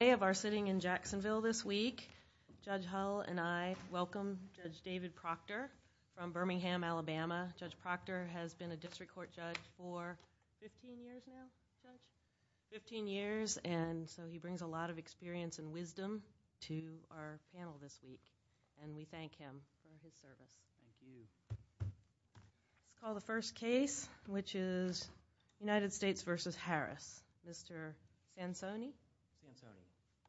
Today of our sitting in Jacksonville this week, Judge Hull and I welcome Judge David Proctor from Birmingham, Alabama. Judge Proctor has been a district court judge for 15 years and so he brings a lot of experience and wisdom to our panel this week and we thank him for his service. We'll call the first case, which is United States v. Harris. Mr. Bansoni?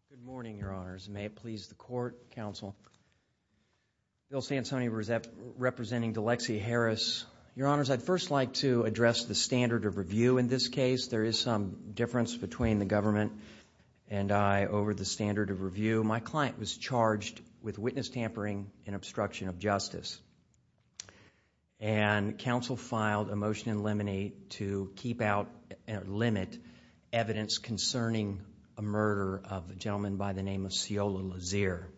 Good morning, Your Honors. May it please the court, counsel. Bill Stansoni representing Delexsia Harris. Your Honors, I'd first like to address the standard of review in this case. There is some difference between the government and I over the standard of review. My client was charged with witness tampering and obstruction of justice and counsel filed a motion in limine to keep out and limit evidence concerning a murder of a gentleman by the name of Sciola Lazier.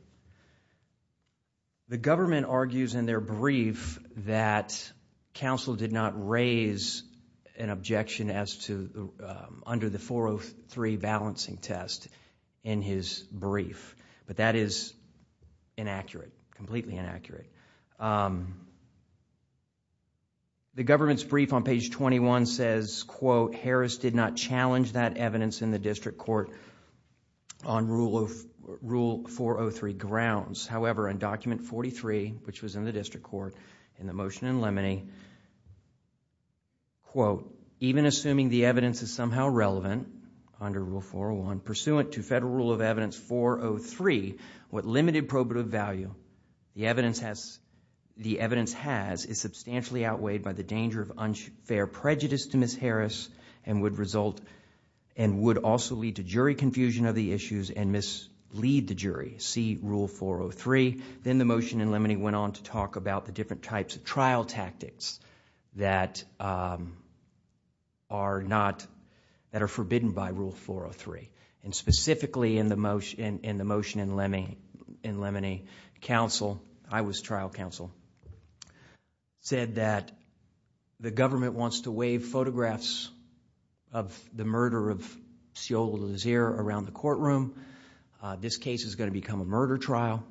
The government argues in their brief that counsel did not raise an objection as to, under the 403 balancing test in his brief, but that is inaccurate, completely inaccurate. The government's brief on page 21 says, quote, Harris did not challenge that evidence in the district court on Rule 403 grounds. However, in document 43, which was in the district court, in the motion in limine, quote, even assuming the evidence is somehow relevant under Rule 401 pursuant to Federal Rule of Evidence 403, what limited probative value the evidence has is substantially outweighed by the danger of unfair prejudice to Ms. Harris and would also lead to jury confusion of the issues and mislead the jury. See Rule 403. Then the motion in limine went on to talk about the different types of trial M&A. Counsel, I was trial counsel, said that the government wants to wave photographs of the murder of Sciola Lazier around the courtroom. This case is going to become a murder trial.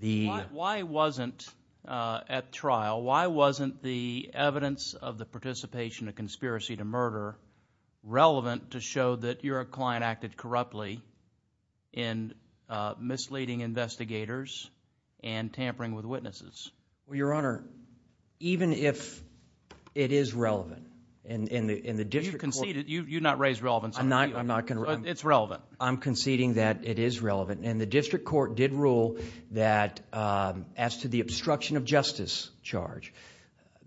Why wasn't at trial, why wasn't the evidence of the participation of conspiracy to murder relevant to show that your client acted corruptly in misleading investigators and tampering with witnesses? Well, Your Honor, even if it is relevant in the district court... You conceded. You did not raise relevance. I'm not going to... It's relevant. I'm conceding that it is relevant. The district court did rule that as to the obstruction of justice charge.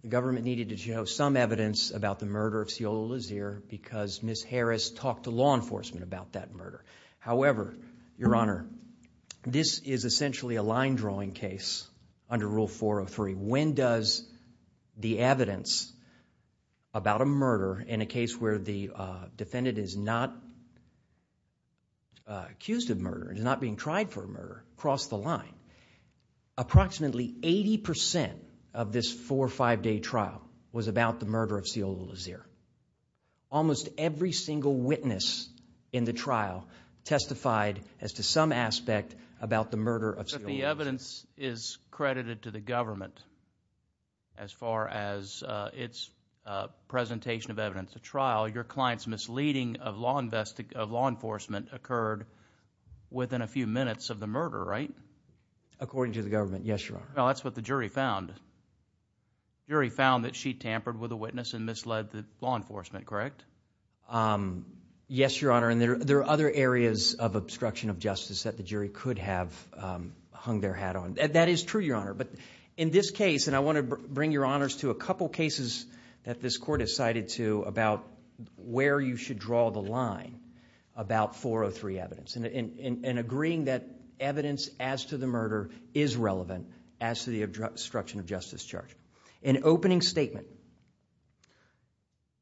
Government needed to show some evidence about the murder of Sciola Lazier because Ms. Harris talked to law enforcement about that murder. However, Your Honor, this is essentially a line drawing case under Rule 403. When does the evidence about a murder in a case where the defendant is not accused of murder and is not being tried for murder cross the line? Approximately 80% of this four or five day trial was about the murder of Sciola Lazier. Almost every single witness in the trial testified as to some aspect about the murder of Sciola Lazier. But the evidence is credited to the government as far as its presentation of evidence. At trial, your client's misleading of law enforcement occurred within a few minutes of the murder right? According to the government, yes, Your Honor. Well, that's what the jury found. The jury found that she tampered with a witness and misled the law enforcement, correct? Yes, Your Honor. There are other areas of obstruction of justice that the jury could have hung their hat on. That is true, Your Honor. But in this case, and I want to bring Your Honors to a couple cases that this court has cited to about where you should draw the evidence as to the murder is relevant as to the obstruction of justice charge. In opening statement,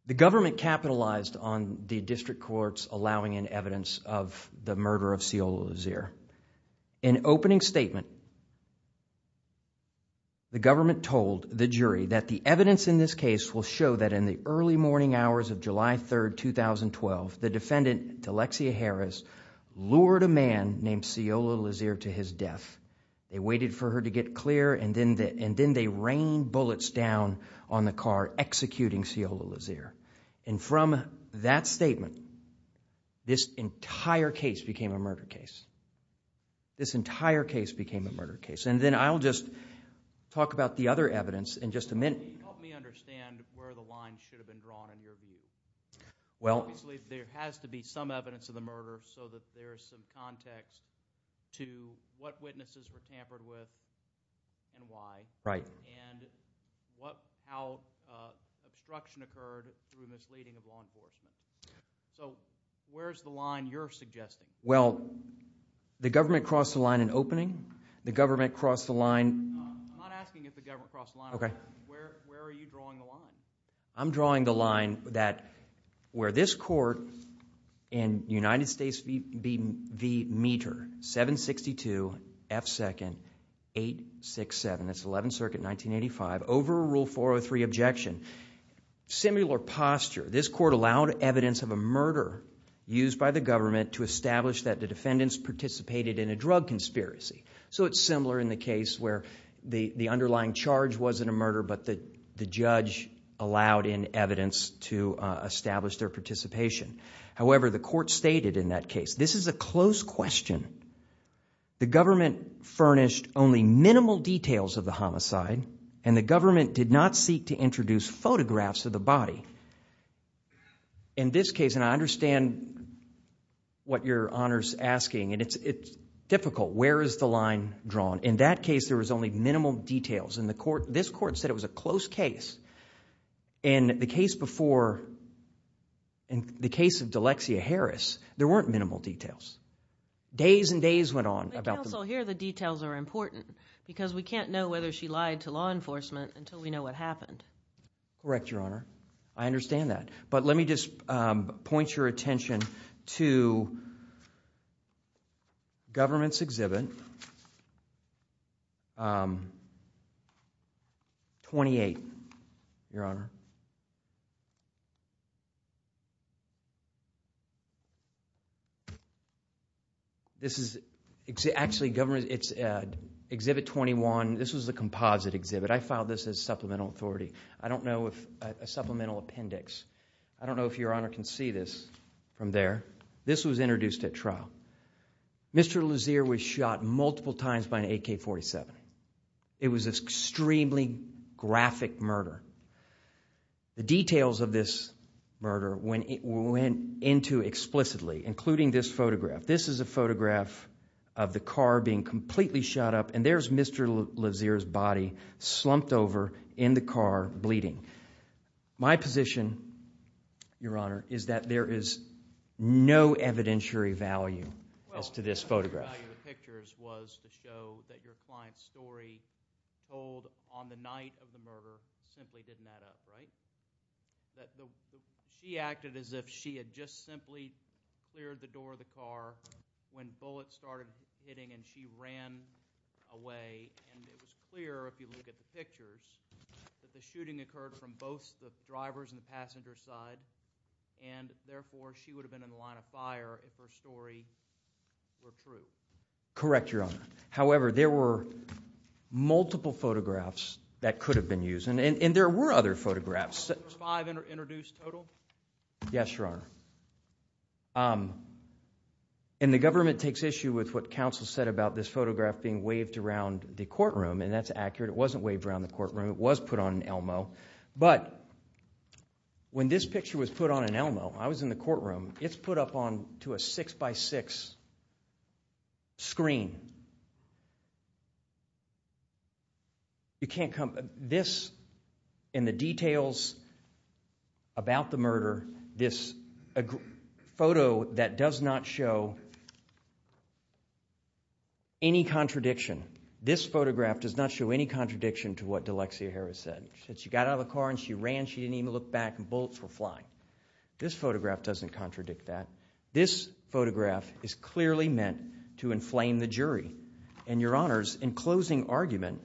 the government capitalized on the district courts allowing in evidence of the murder of Sciola Lazier. In opening statement, the government told the jury that the evidence in this case will show that in the early morning hours of July 3rd, 2012, the defendant, Alexia Harris, lured a man named Sciola Lazier to his death. They waited for her to get clear and then they rained bullets down on the car executing Sciola Lazier. From that statement, this entire case became a murder case. This entire case became a murder case. Then I'll just talk about the other evidence in just a minute. Can you help me understand where the line should have been drawn in your view? Obviously, there has to be some evidence of the murder so that there is some context to what witnesses were tampered with and why. Right. And how obstruction occurred through misleading of law enforcement. So where's the line you're suggesting? Well, the government crossed the line in opening. The government crossed the line... I'm not asking if the government crossed the line. Okay. Where are you drawing the line? I'm drawing the line that where this court in United States v. Meter, 762 F. 2nd, 867, that's 11th Circuit, 1985, over rule 403 objection, similar posture. This court allowed evidence of a murder used by the government to establish that the defendants participated in a drug conspiracy. So it's similar in the case where the underlying charge wasn't a murder, but the judge allowed in evidence to establish their participation. However, the court stated in that case, this is a close question. The government furnished only minimal details of the homicide and the government did not seek to introduce photographs of the body. In this case, and I understand what your Honor's asking, and it's difficult. Where is the line drawn? In that case, there was only minimal details. In the court, this court said it was a close case. In the case before, in the case of D'Alexia Harris, there weren't minimal details. Days and days went on about the... But counsel, here the details are important because we can't know whether she lied to law enforcement until we know what happened. Correct, your Honor. I understand that. But let me just point your attention to government's exhibit 28, your Honor. This is actually government's exhibit 21. This is a composite exhibit. I filed this as supplemental authority. I don't know if... A supplemental appendix. I don't know if your Honor can see this from there. This was introduced at trial. Mr. Lazear was shot multiple times by an AK-47. It was an extremely graphic murder. The details of this murder, when it went into explicitly, including this photograph. This is a photograph of the car being completely shot up and there's Mr. Lazear's body slumped over in the car, bleeding. My position, your Honor, is that there is no evidentiary value as to this photograph. Well, evidentiary value of the pictures was to show that your client's story told on the night of the murder simply didn't add up, right? That she acted as if she had just simply cleared the door of the car when bullets started hitting and she ran away. And it was clear, if you look at the pictures, that the shooting occurred from both the driver's and the passenger's side. And therefore, she would have been in the line of fire if her story were true. Correct, your Honor. However, there were multiple photographs that could have been used. And there were other photographs. Five introduced total? Yes, your Honor. And the government takes issue with what counsel said about this photograph being waved around the courtroom. And that's accurate. It wasn't waved around the courtroom. It was put on an Elmo. But when this picture was put on an Elmo, I was in the courtroom, it's put up onto a six-by-six screen. You can't come, this and the details about the murder, this photo that does not show any contradiction. This photograph does not show any contradiction to what D'Alexia Harris said. She got out of the car and she ran. She didn't even look back and bullets were flying. This photograph doesn't contradict that. This photograph is clearly meant to inflame the jury. And your Honors, in closing argument,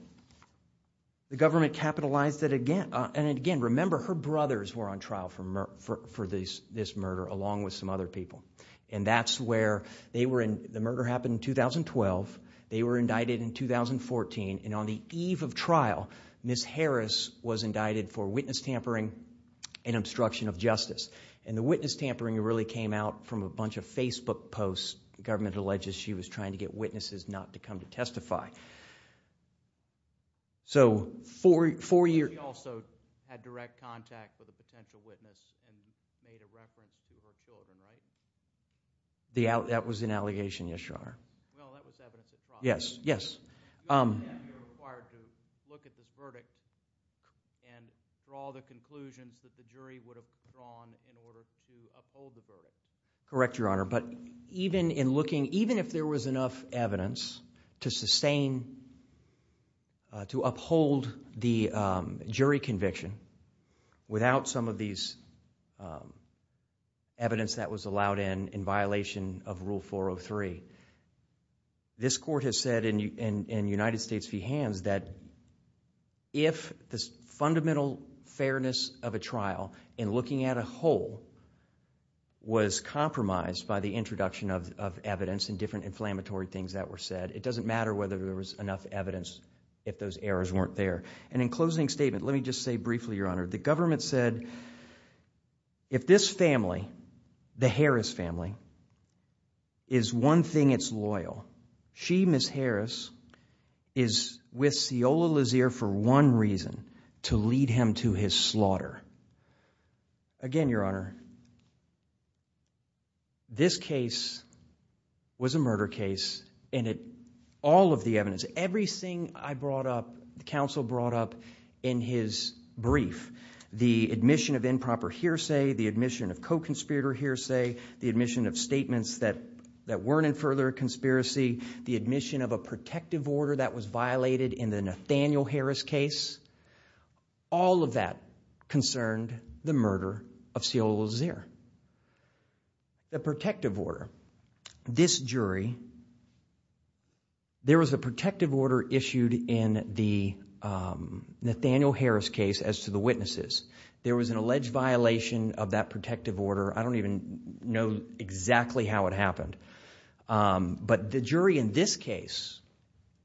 the government capitalized it again. And again, remember, her brothers were on trial for this murder, along with some other people. And that's where they were in, the murder happened in 2012. They were indicted in 2014. And on the eve of trial, Ms. Harris was indicted for witness tampering and obstruction of justice. And the witness tampering really came out from a bunch of Facebook posts. The government alleges she was trying to get witnesses not to come to testify. So four years... She also had direct contact with a potential witness and made a reference to her children, right? That was an allegation, yes, Your Honor. No, that was evidence of fraud. Yes. You're required to look at this verdict and draw the conclusions that the jury would have drawn in order to uphold the verdict. Correct, Your Honor. But even in looking, even if there was enough evidence to sustain, to uphold the jury conviction without some of these evidence that was allowed in, in United States v. Hans, that if the fundamental fairness of a trial in looking at a whole was compromised by the introduction of evidence and different inflammatory things that were said, it doesn't matter whether there was enough evidence if those errors weren't there. And in closing statement, let me just say briefly, Your Honor, the government said, if this family, the Harris family, is one thing it's loyal, she, Ms. Harris, is with Ceola Lazier for one reason, to lead him to his slaughter. Again, Your Honor, this case was a murder case and it... all of the evidence, everything I brought up, the counsel brought up in his brief, the admission of improper hearsay, the admission of co-conspirator hearsay, the admission of statements that, that weren't in further conspiracy, the admission of a protective order that was violated in the Nathaniel Harris case, all of that concerned the murder of Ceola Lazier. The protective order, this jury, there was a protective order issued in the Nathaniel Harris case as to the witnesses. There was an alleged violation of that protective order. I don't even know exactly how it happened. But the jury in this case,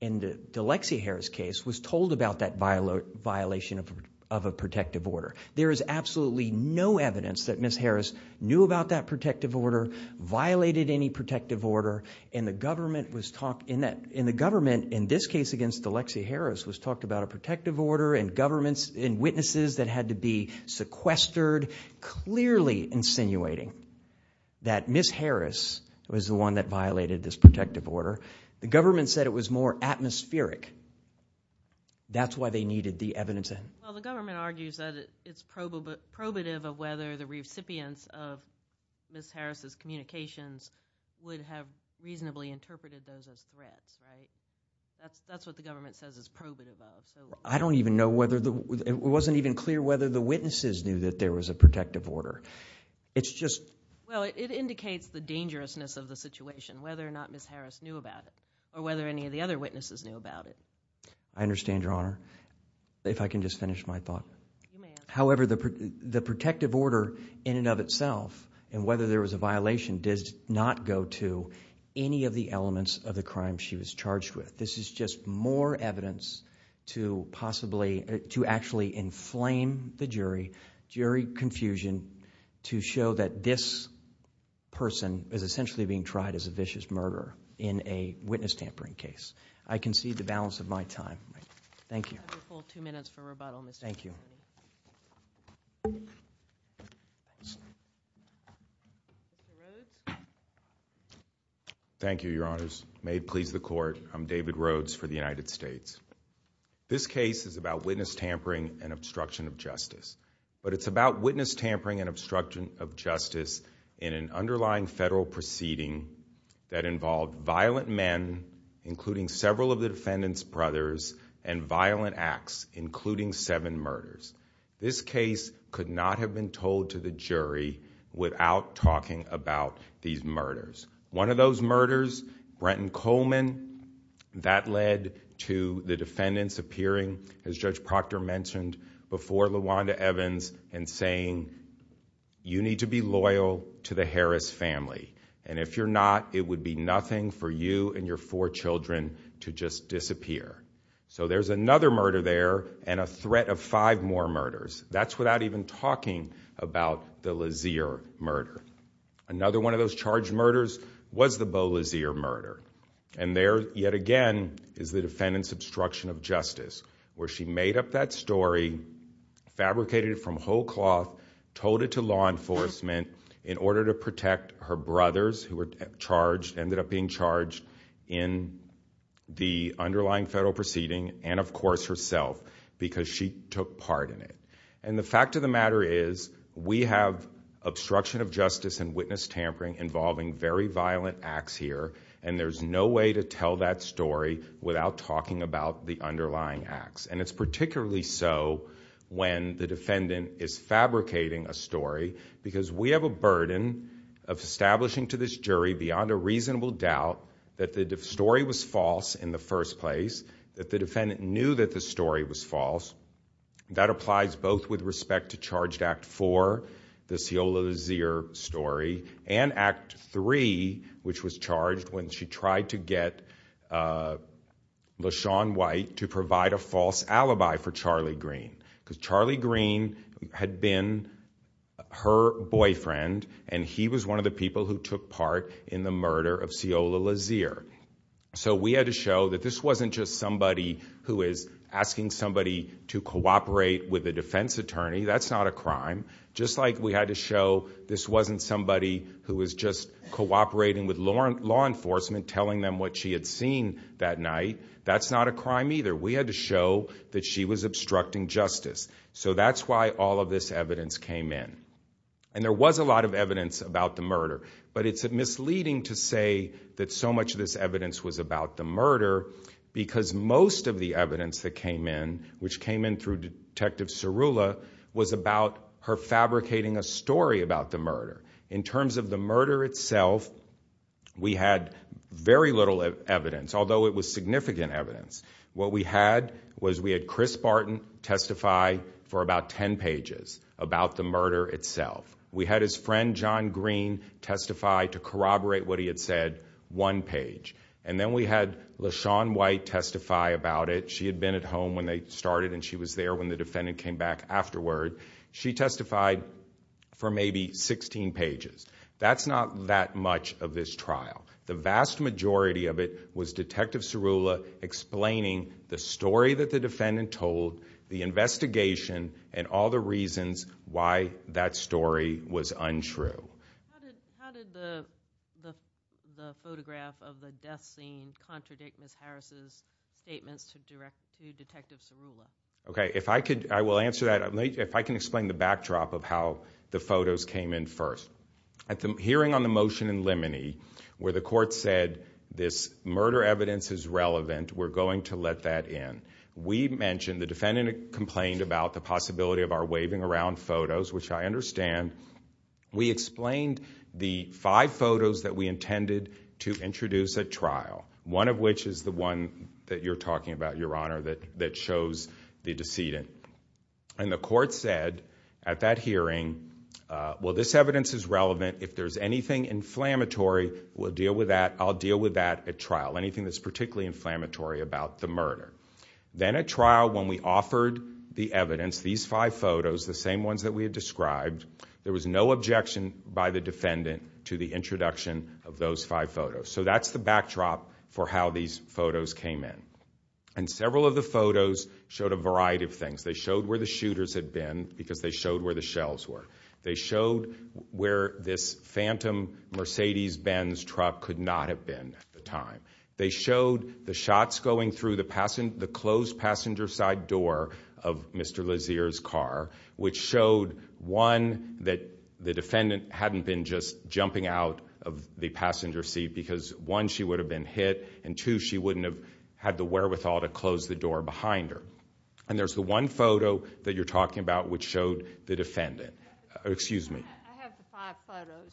in the Alexia Harris case, was told about that violation of a protective order. There is absolutely no evidence that Ms. Harris knew about that protective order, violated any protective order, and the government was... and the government, in this case against Alexia Harris, was talked about a protective order and governments and witnesses that had to be sequestered, clearly insinuating that Ms. Harris was the one that violated this protective order. The government said it was more atmospheric. That's why they needed the evidence. Well, the government argues that it's probative of whether the recipients of Ms. Harris' communications would have reasonably interpreted those as threats, right? That's what the government says is probative of. I don't even know whether... it wasn't even clear whether the witnesses knew that there was a protective order. It's just... Well, it indicates the dangerousness of the situation, whether or not Ms. Harris knew about it, or whether any of the other witnesses knew about it. I understand, Your Honor. If I can just finish my thought. However, the protective order, in and of itself, and whether there was a violation, did not go to any of the elements of the crime she was charged with. This is just more evidence to possibly... to actually inflame the jury, jury confusion, to show that this person is essentially being tried as a vicious murderer in a witness tampering case. I concede the balance of my time. Thank you. I'll give you a full two minutes for rebuttal, Mr. Chairman. Thank you. Thank you, Your Honors. May it please the Court, I'm David Rhodes for the United States. This case is about witness tampering and obstruction of justice, but it's about witness tampering and obstruction of justice in an underlying federal proceeding that involved violent men, including several of the defendant's brothers, and violent acts, including seven murders. This case could not have been told to the jury without talking about these murders. One of those murders, Brenton Coleman, that led to the defendants appearing, as Judge Proctor mentioned, before LaWanda Evans and saying, you need to be loyal to the Harris family, and if you're not, it would be nothing for you and your four children to just disappear. So there's another murder there, and a threat of five more murders. That's without even talking about the Lazier murder. Another one of those charged murders was the Bo Lazier murder, and there, yet again, is the defendants obstruction of justice, where she made up that story, fabricated it from whole cloth, told it to law enforcement in order to protect her brothers, who ended up being charged in the underlying federal proceeding, and of course, herself, because she took part in it. The fact of the matter is, we have obstruction of justice and witness tampering involving very violent acts here, and there's no way to tell that story without talking about the underlying acts. It's particularly so when the defendant is fabricating a story, because we have a burden of establishing to this jury, beyond a reasonable doubt, that the story was false in the first place, that the defendant knew that the story was false. That applies both with respect to charged Act IV, the Ciola Lazier story, and Act III, which was charged when she tried to get LaShawn White to provide a false alibi for Charlie Green, because Charlie Green had been her boyfriend, and he was one of the people who took part in the murder of Ciola Lazier. We had to show that this wasn't just somebody who is asking somebody to cooperate with a defense attorney. That's not a crime. Just like we had to show this wasn't somebody who was just cooperating with law enforcement, telling them what she had seen that night, that's not a crime either. We had to show that she was obstructing justice. So that's why all of this evidence came in. And there was a lot of evidence about the murder, but it's misleading to say that so much of this evidence was about the murder, because most of the evidence that came in, which came in through Detective Cirulla, was about her fabricating a story about the murder. In terms of the murder itself, we had very little evidence, although it was significant evidence. What we had was we had Chris Barton testify for about 10 pages about the murder itself. We had his friend John Green testify to corroborate what he had said one page. And then we had LaShawn White testify about it. She had been at home when they started, and she was there when the defendant came back afterward. She testified for maybe 16 pages. That's not that much of this trial. The vast majority of it was Detective Cirulla explaining the story that the defendant told, the investigation, and all the reasons why that story was untrue. How did the photograph of the death scene contradict Ms. Harris' statements to Detective Cirulla? Okay, if I could, I will answer that. If I can explain the backdrop of how the photos came in first. At the hearing on the motion in Limonee, where the court said this murder evidence is relevant, we're going to let that in. We mentioned, the defendant complained about the possibility of our waving around photos, which I understand. We explained the five photos that we intended to introduce at trial, one of which is the one that you're talking about, Your Honor, that shows the decedent. And the court said at that hearing, well, this evidence is relevant. If there's anything inflammatory, we'll deal with that. I'll deal with that at trial, anything that's particularly inflammatory about the murder. Then at trial, when we offered the evidence, these five photos, the same ones that we had described, there was no objection by the defendant to the introduction of those five photos. So that's the backdrop for how these photos came in. And several of the photos showed a variety of things. They showed where the shooters had been, because they showed where the shells were. They showed where this Phantom Mercedes Benz truck could not have been at the time. They showed the shots going through the closed passenger side door of Mr. Lazear's car, which showed, one, that the defendant hadn't been just jumping out of the passenger seat, because one, she would have been hit, and two, she wouldn't have had the wherewithal to close the door behind her. And there's the one photo that you're talking about, which showed the defendant. Excuse me. I have the five photos,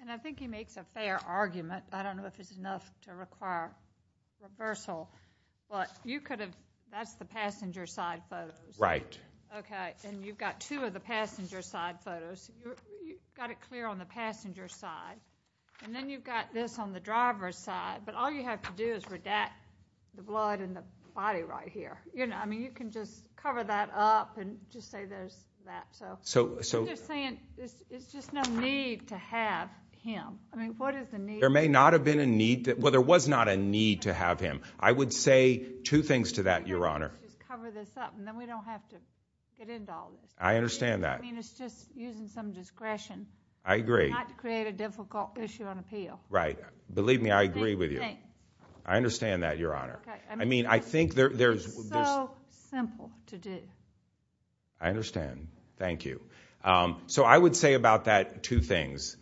and I think he makes a fair argument. I don't know if it's enough to require reversal, but you could have, that's the passenger side photos. Right. Okay, and you've got two of the passenger side photos. You've got it clear on the passenger side, and then you've got this on the driver's side. But all you have to do is redact the blood in the body right here. I mean, you can just cover that up and just say there's that, so. So you're saying there's just no need to have him. I mean, what is the need? There may not have been a need, well, there was not a need to have him. I would say two things to that, Your Honor. You can just cover this up, and then we don't have to get into all this. I understand that. I mean, it's just using some discretion. I agree. Not to create a difficult issue on appeal. Right. Believe me, I agree with you. I understand that, Your Honor. I mean, I think there's- It's so simple to do. I understand. Thank you. So I would say about that two things,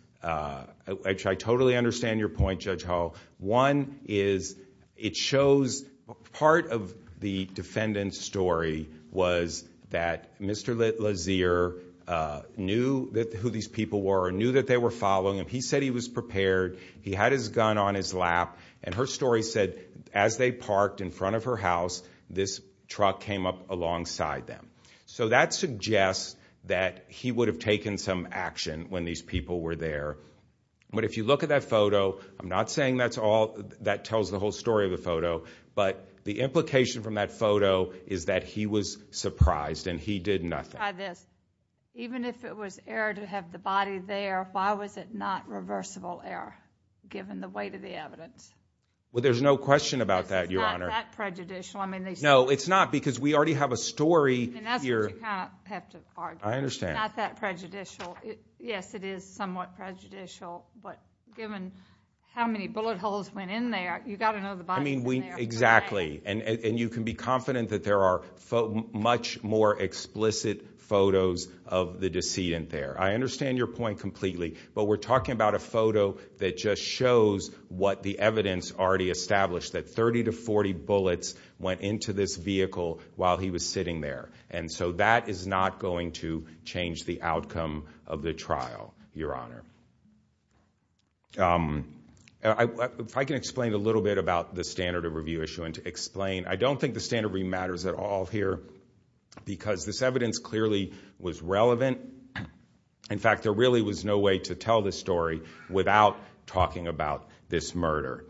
which I totally understand your point, Judge Hall. One is, it shows part of the defendant's story was that Mr. Lazier knew who these people were, knew that they were following him. He said he was prepared. He had his gun on his lap. And her story said, as they parked in front of her house, this truck came up alongside them. So that suggests that he would have taken some action when these people were there. But if you look at that photo, I'm not saying that tells the whole story of the photo, but the implication from that photo is that he was surprised and he did nothing. Try this. Even if it was error to have the body there, why was it not reversible error, given the weight of the evidence? Well, there's no question about that, Your Honor. It's not that prejudicial. I mean, these- No, it's not, because we already have a story- I mean, that's what you kind of have to argue. I understand. It's not that prejudicial. Yes, it is somewhat prejudicial. But given how many bullet holes went in there, you've got to know the body's in there. Exactly. And you can be confident that there are much more explicit photos of the decedent there. I understand your point completely, but we're talking about a photo that just shows what the evidence already established, that 30 to 40 bullets went into this vehicle while he was sitting there. And so that is not going to change the outcome of the trial, Your Honor. If I can explain a little bit about the standard of review issue and to explain. I don't think the standard of review matters at all here, because this evidence clearly was relevant. In fact, there really was no way to tell this story without talking about this murder.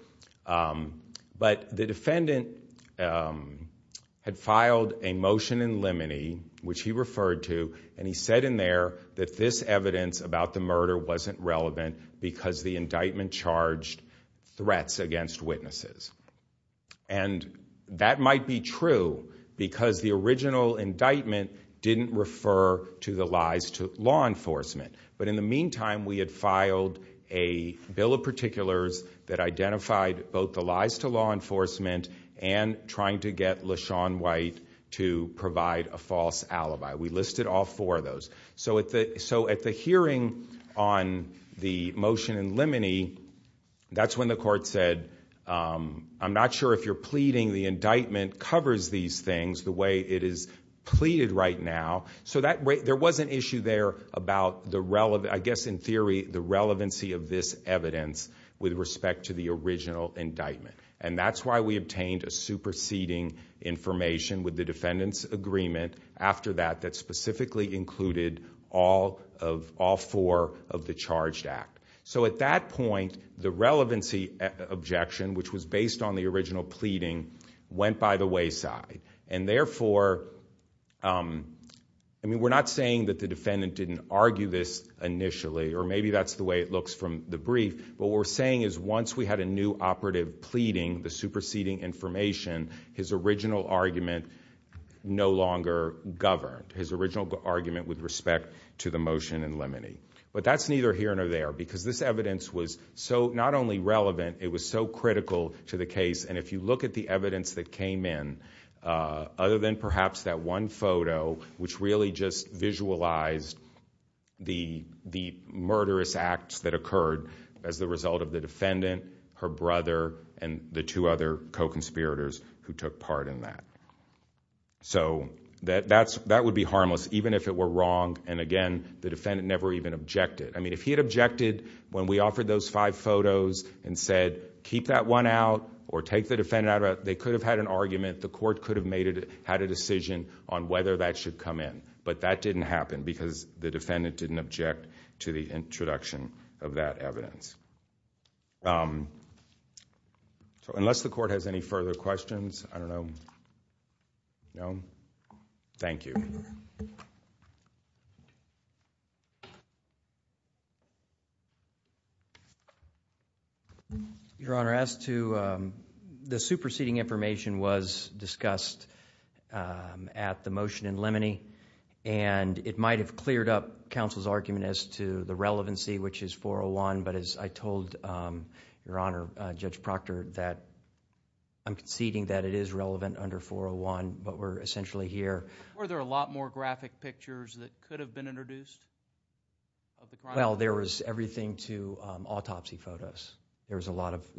But the defendant had filed a motion in limine, which he referred to, and he said in there that this evidence about the murder wasn't relevant because the indictment charged threats against witnesses. And that might be true, because the original indictment didn't refer to the lies to law enforcement. But in the meantime, we had filed a bill of particulars that identified both the lies to law enforcement and trying to get LaShawn White to provide a false alibi. We listed all four of those. So at the hearing on the motion in limine, that's when the court said, I'm not sure if you're pleading the indictment covers these things the way it is pleaded right now. So there was an issue there about, I guess in theory, the relevancy of this evidence with respect to the original indictment. And that's why we obtained a superseding information with the defendant's agreement after that that specifically included all four of the charged act. So at that point, the relevancy objection, which was based on the original pleading, went by the wayside. And therefore, I mean, we're not saying that the defendant didn't argue this initially, or maybe that's the way it looks from the brief. But what we're saying is once we had a new operative pleading the superseding information, his original argument no longer governed. His original argument with respect to the motion in limine. But that's neither here nor there, because this evidence was so not only relevant, it was so critical to the case. And if you look at the evidence that came in, other than perhaps that one photo, which really just visualized the murderous acts that occurred as the result of the defendant, her brother, and the two other co-conspirators who took part in that. So that would be harmless, even if it were wrong. And again, the defendant never even objected. I mean, if he had objected when we offered those five photos and said, keep that one out or take the defendant out, they could have had an argument. The court could have had a decision on whether that should come in. But that didn't happen, because the defendant didn't object to the introduction of that evidence. Unless the court has any further questions, I don't know. No? Thank you. Thank you. Your Honor, as to the superseding information was discussed at the motion in Lemony. And it might have cleared up counsel's argument as to the relevancy, which is 401. But as I told Your Honor, Judge Proctor, that I'm conceding that it is relevant under 401, but we're essentially here. Were there a lot more graphic pictures that could have been introduced of the crime? Well, there was everything to autopsy photos. There were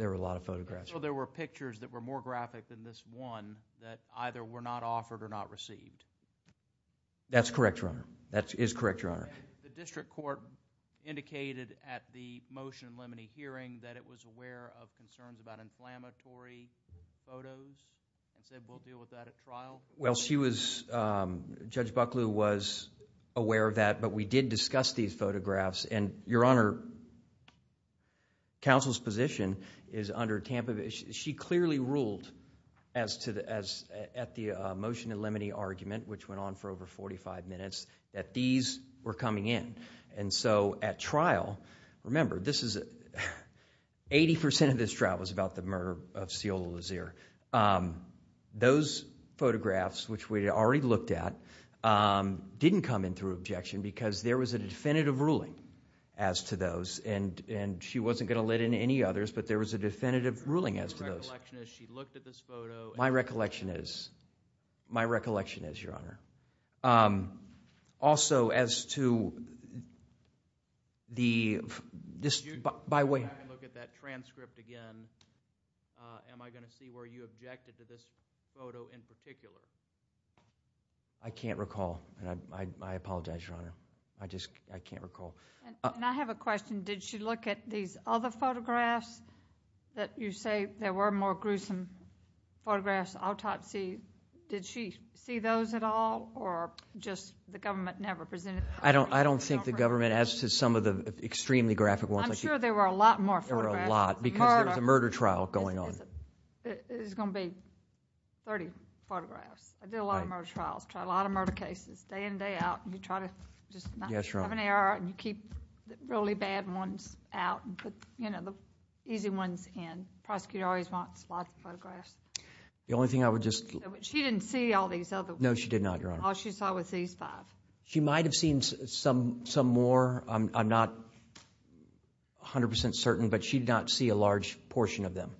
a lot of photographs. So there were pictures that were more graphic than this one that either were not offered or not received. That's correct, Your Honor. That is correct, Your Honor. The district court indicated at the motion in Lemony hearing and said, we'll deal with that at trial. Well, Judge Bucklew was aware of that. But we did discuss these photographs. And Your Honor, counsel's position is under Tampa. She clearly ruled at the motion in Lemony argument, which went on for over 45 minutes, that these were coming in. And so at trial, remember, 80% of this trial was about the murder of Sciola Lazier. Those photographs, which we already looked at, didn't come in through objection because there was a definitive ruling as to those. And she wasn't going to let in any others, but there was a definitive ruling as to those. My recollection is she looked at this photo. My recollection is. My recollection is, Your Honor. Also, as to the dispute by way of that transcript again, am I going to see where you objected to this photo in particular? I can't recall. I apologize, Your Honor. I just can't recall. And I have a question. Did she look at these other photographs that you say there were more gruesome photographs? Did she see those at all? Or just the government never presented them? I don't think the government, as to some of the extremely graphic ones. I'm sure there were a lot more photographs. There were a lot. Because there was a murder trial going on. There's going to be 30 photographs. I did a lot of murder trials. Tried a lot of murder cases, day in and day out. And you try to just not have an error. And you keep the really bad ones out and put the easy ones in. Prosecutor always wants lots of photographs. The only thing I would just. She didn't see all these other ones. No, she did not, Your Honor. All she saw was these five. She might have seen some more. I'm not 100% certain. But she did not see a large portion of them.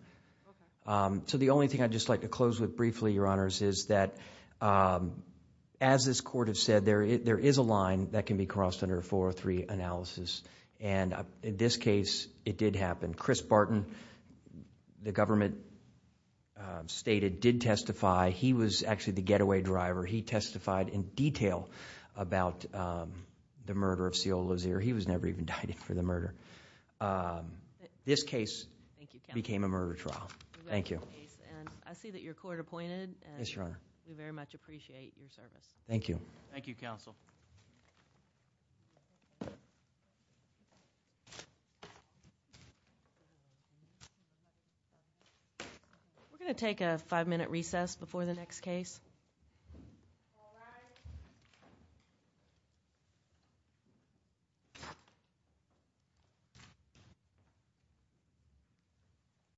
So the only thing I'd just like to close with briefly, Your Honors, is that as this court has said, there is a line that can be crossed under a 403 analysis. And in this case, it did happen. Chris Barton, the government stated, did testify. He was actually the getaway driver. He testified in detail about the murder of C.O. Lazier. He was never even indicted for the murder. This case became a murder trial. Thank you. I see that your court appointed. Yes, Your Honor. We very much appreciate your service. Thank you. Thank you, counsel. We're going to take a five minute recess before the next case. Thank you.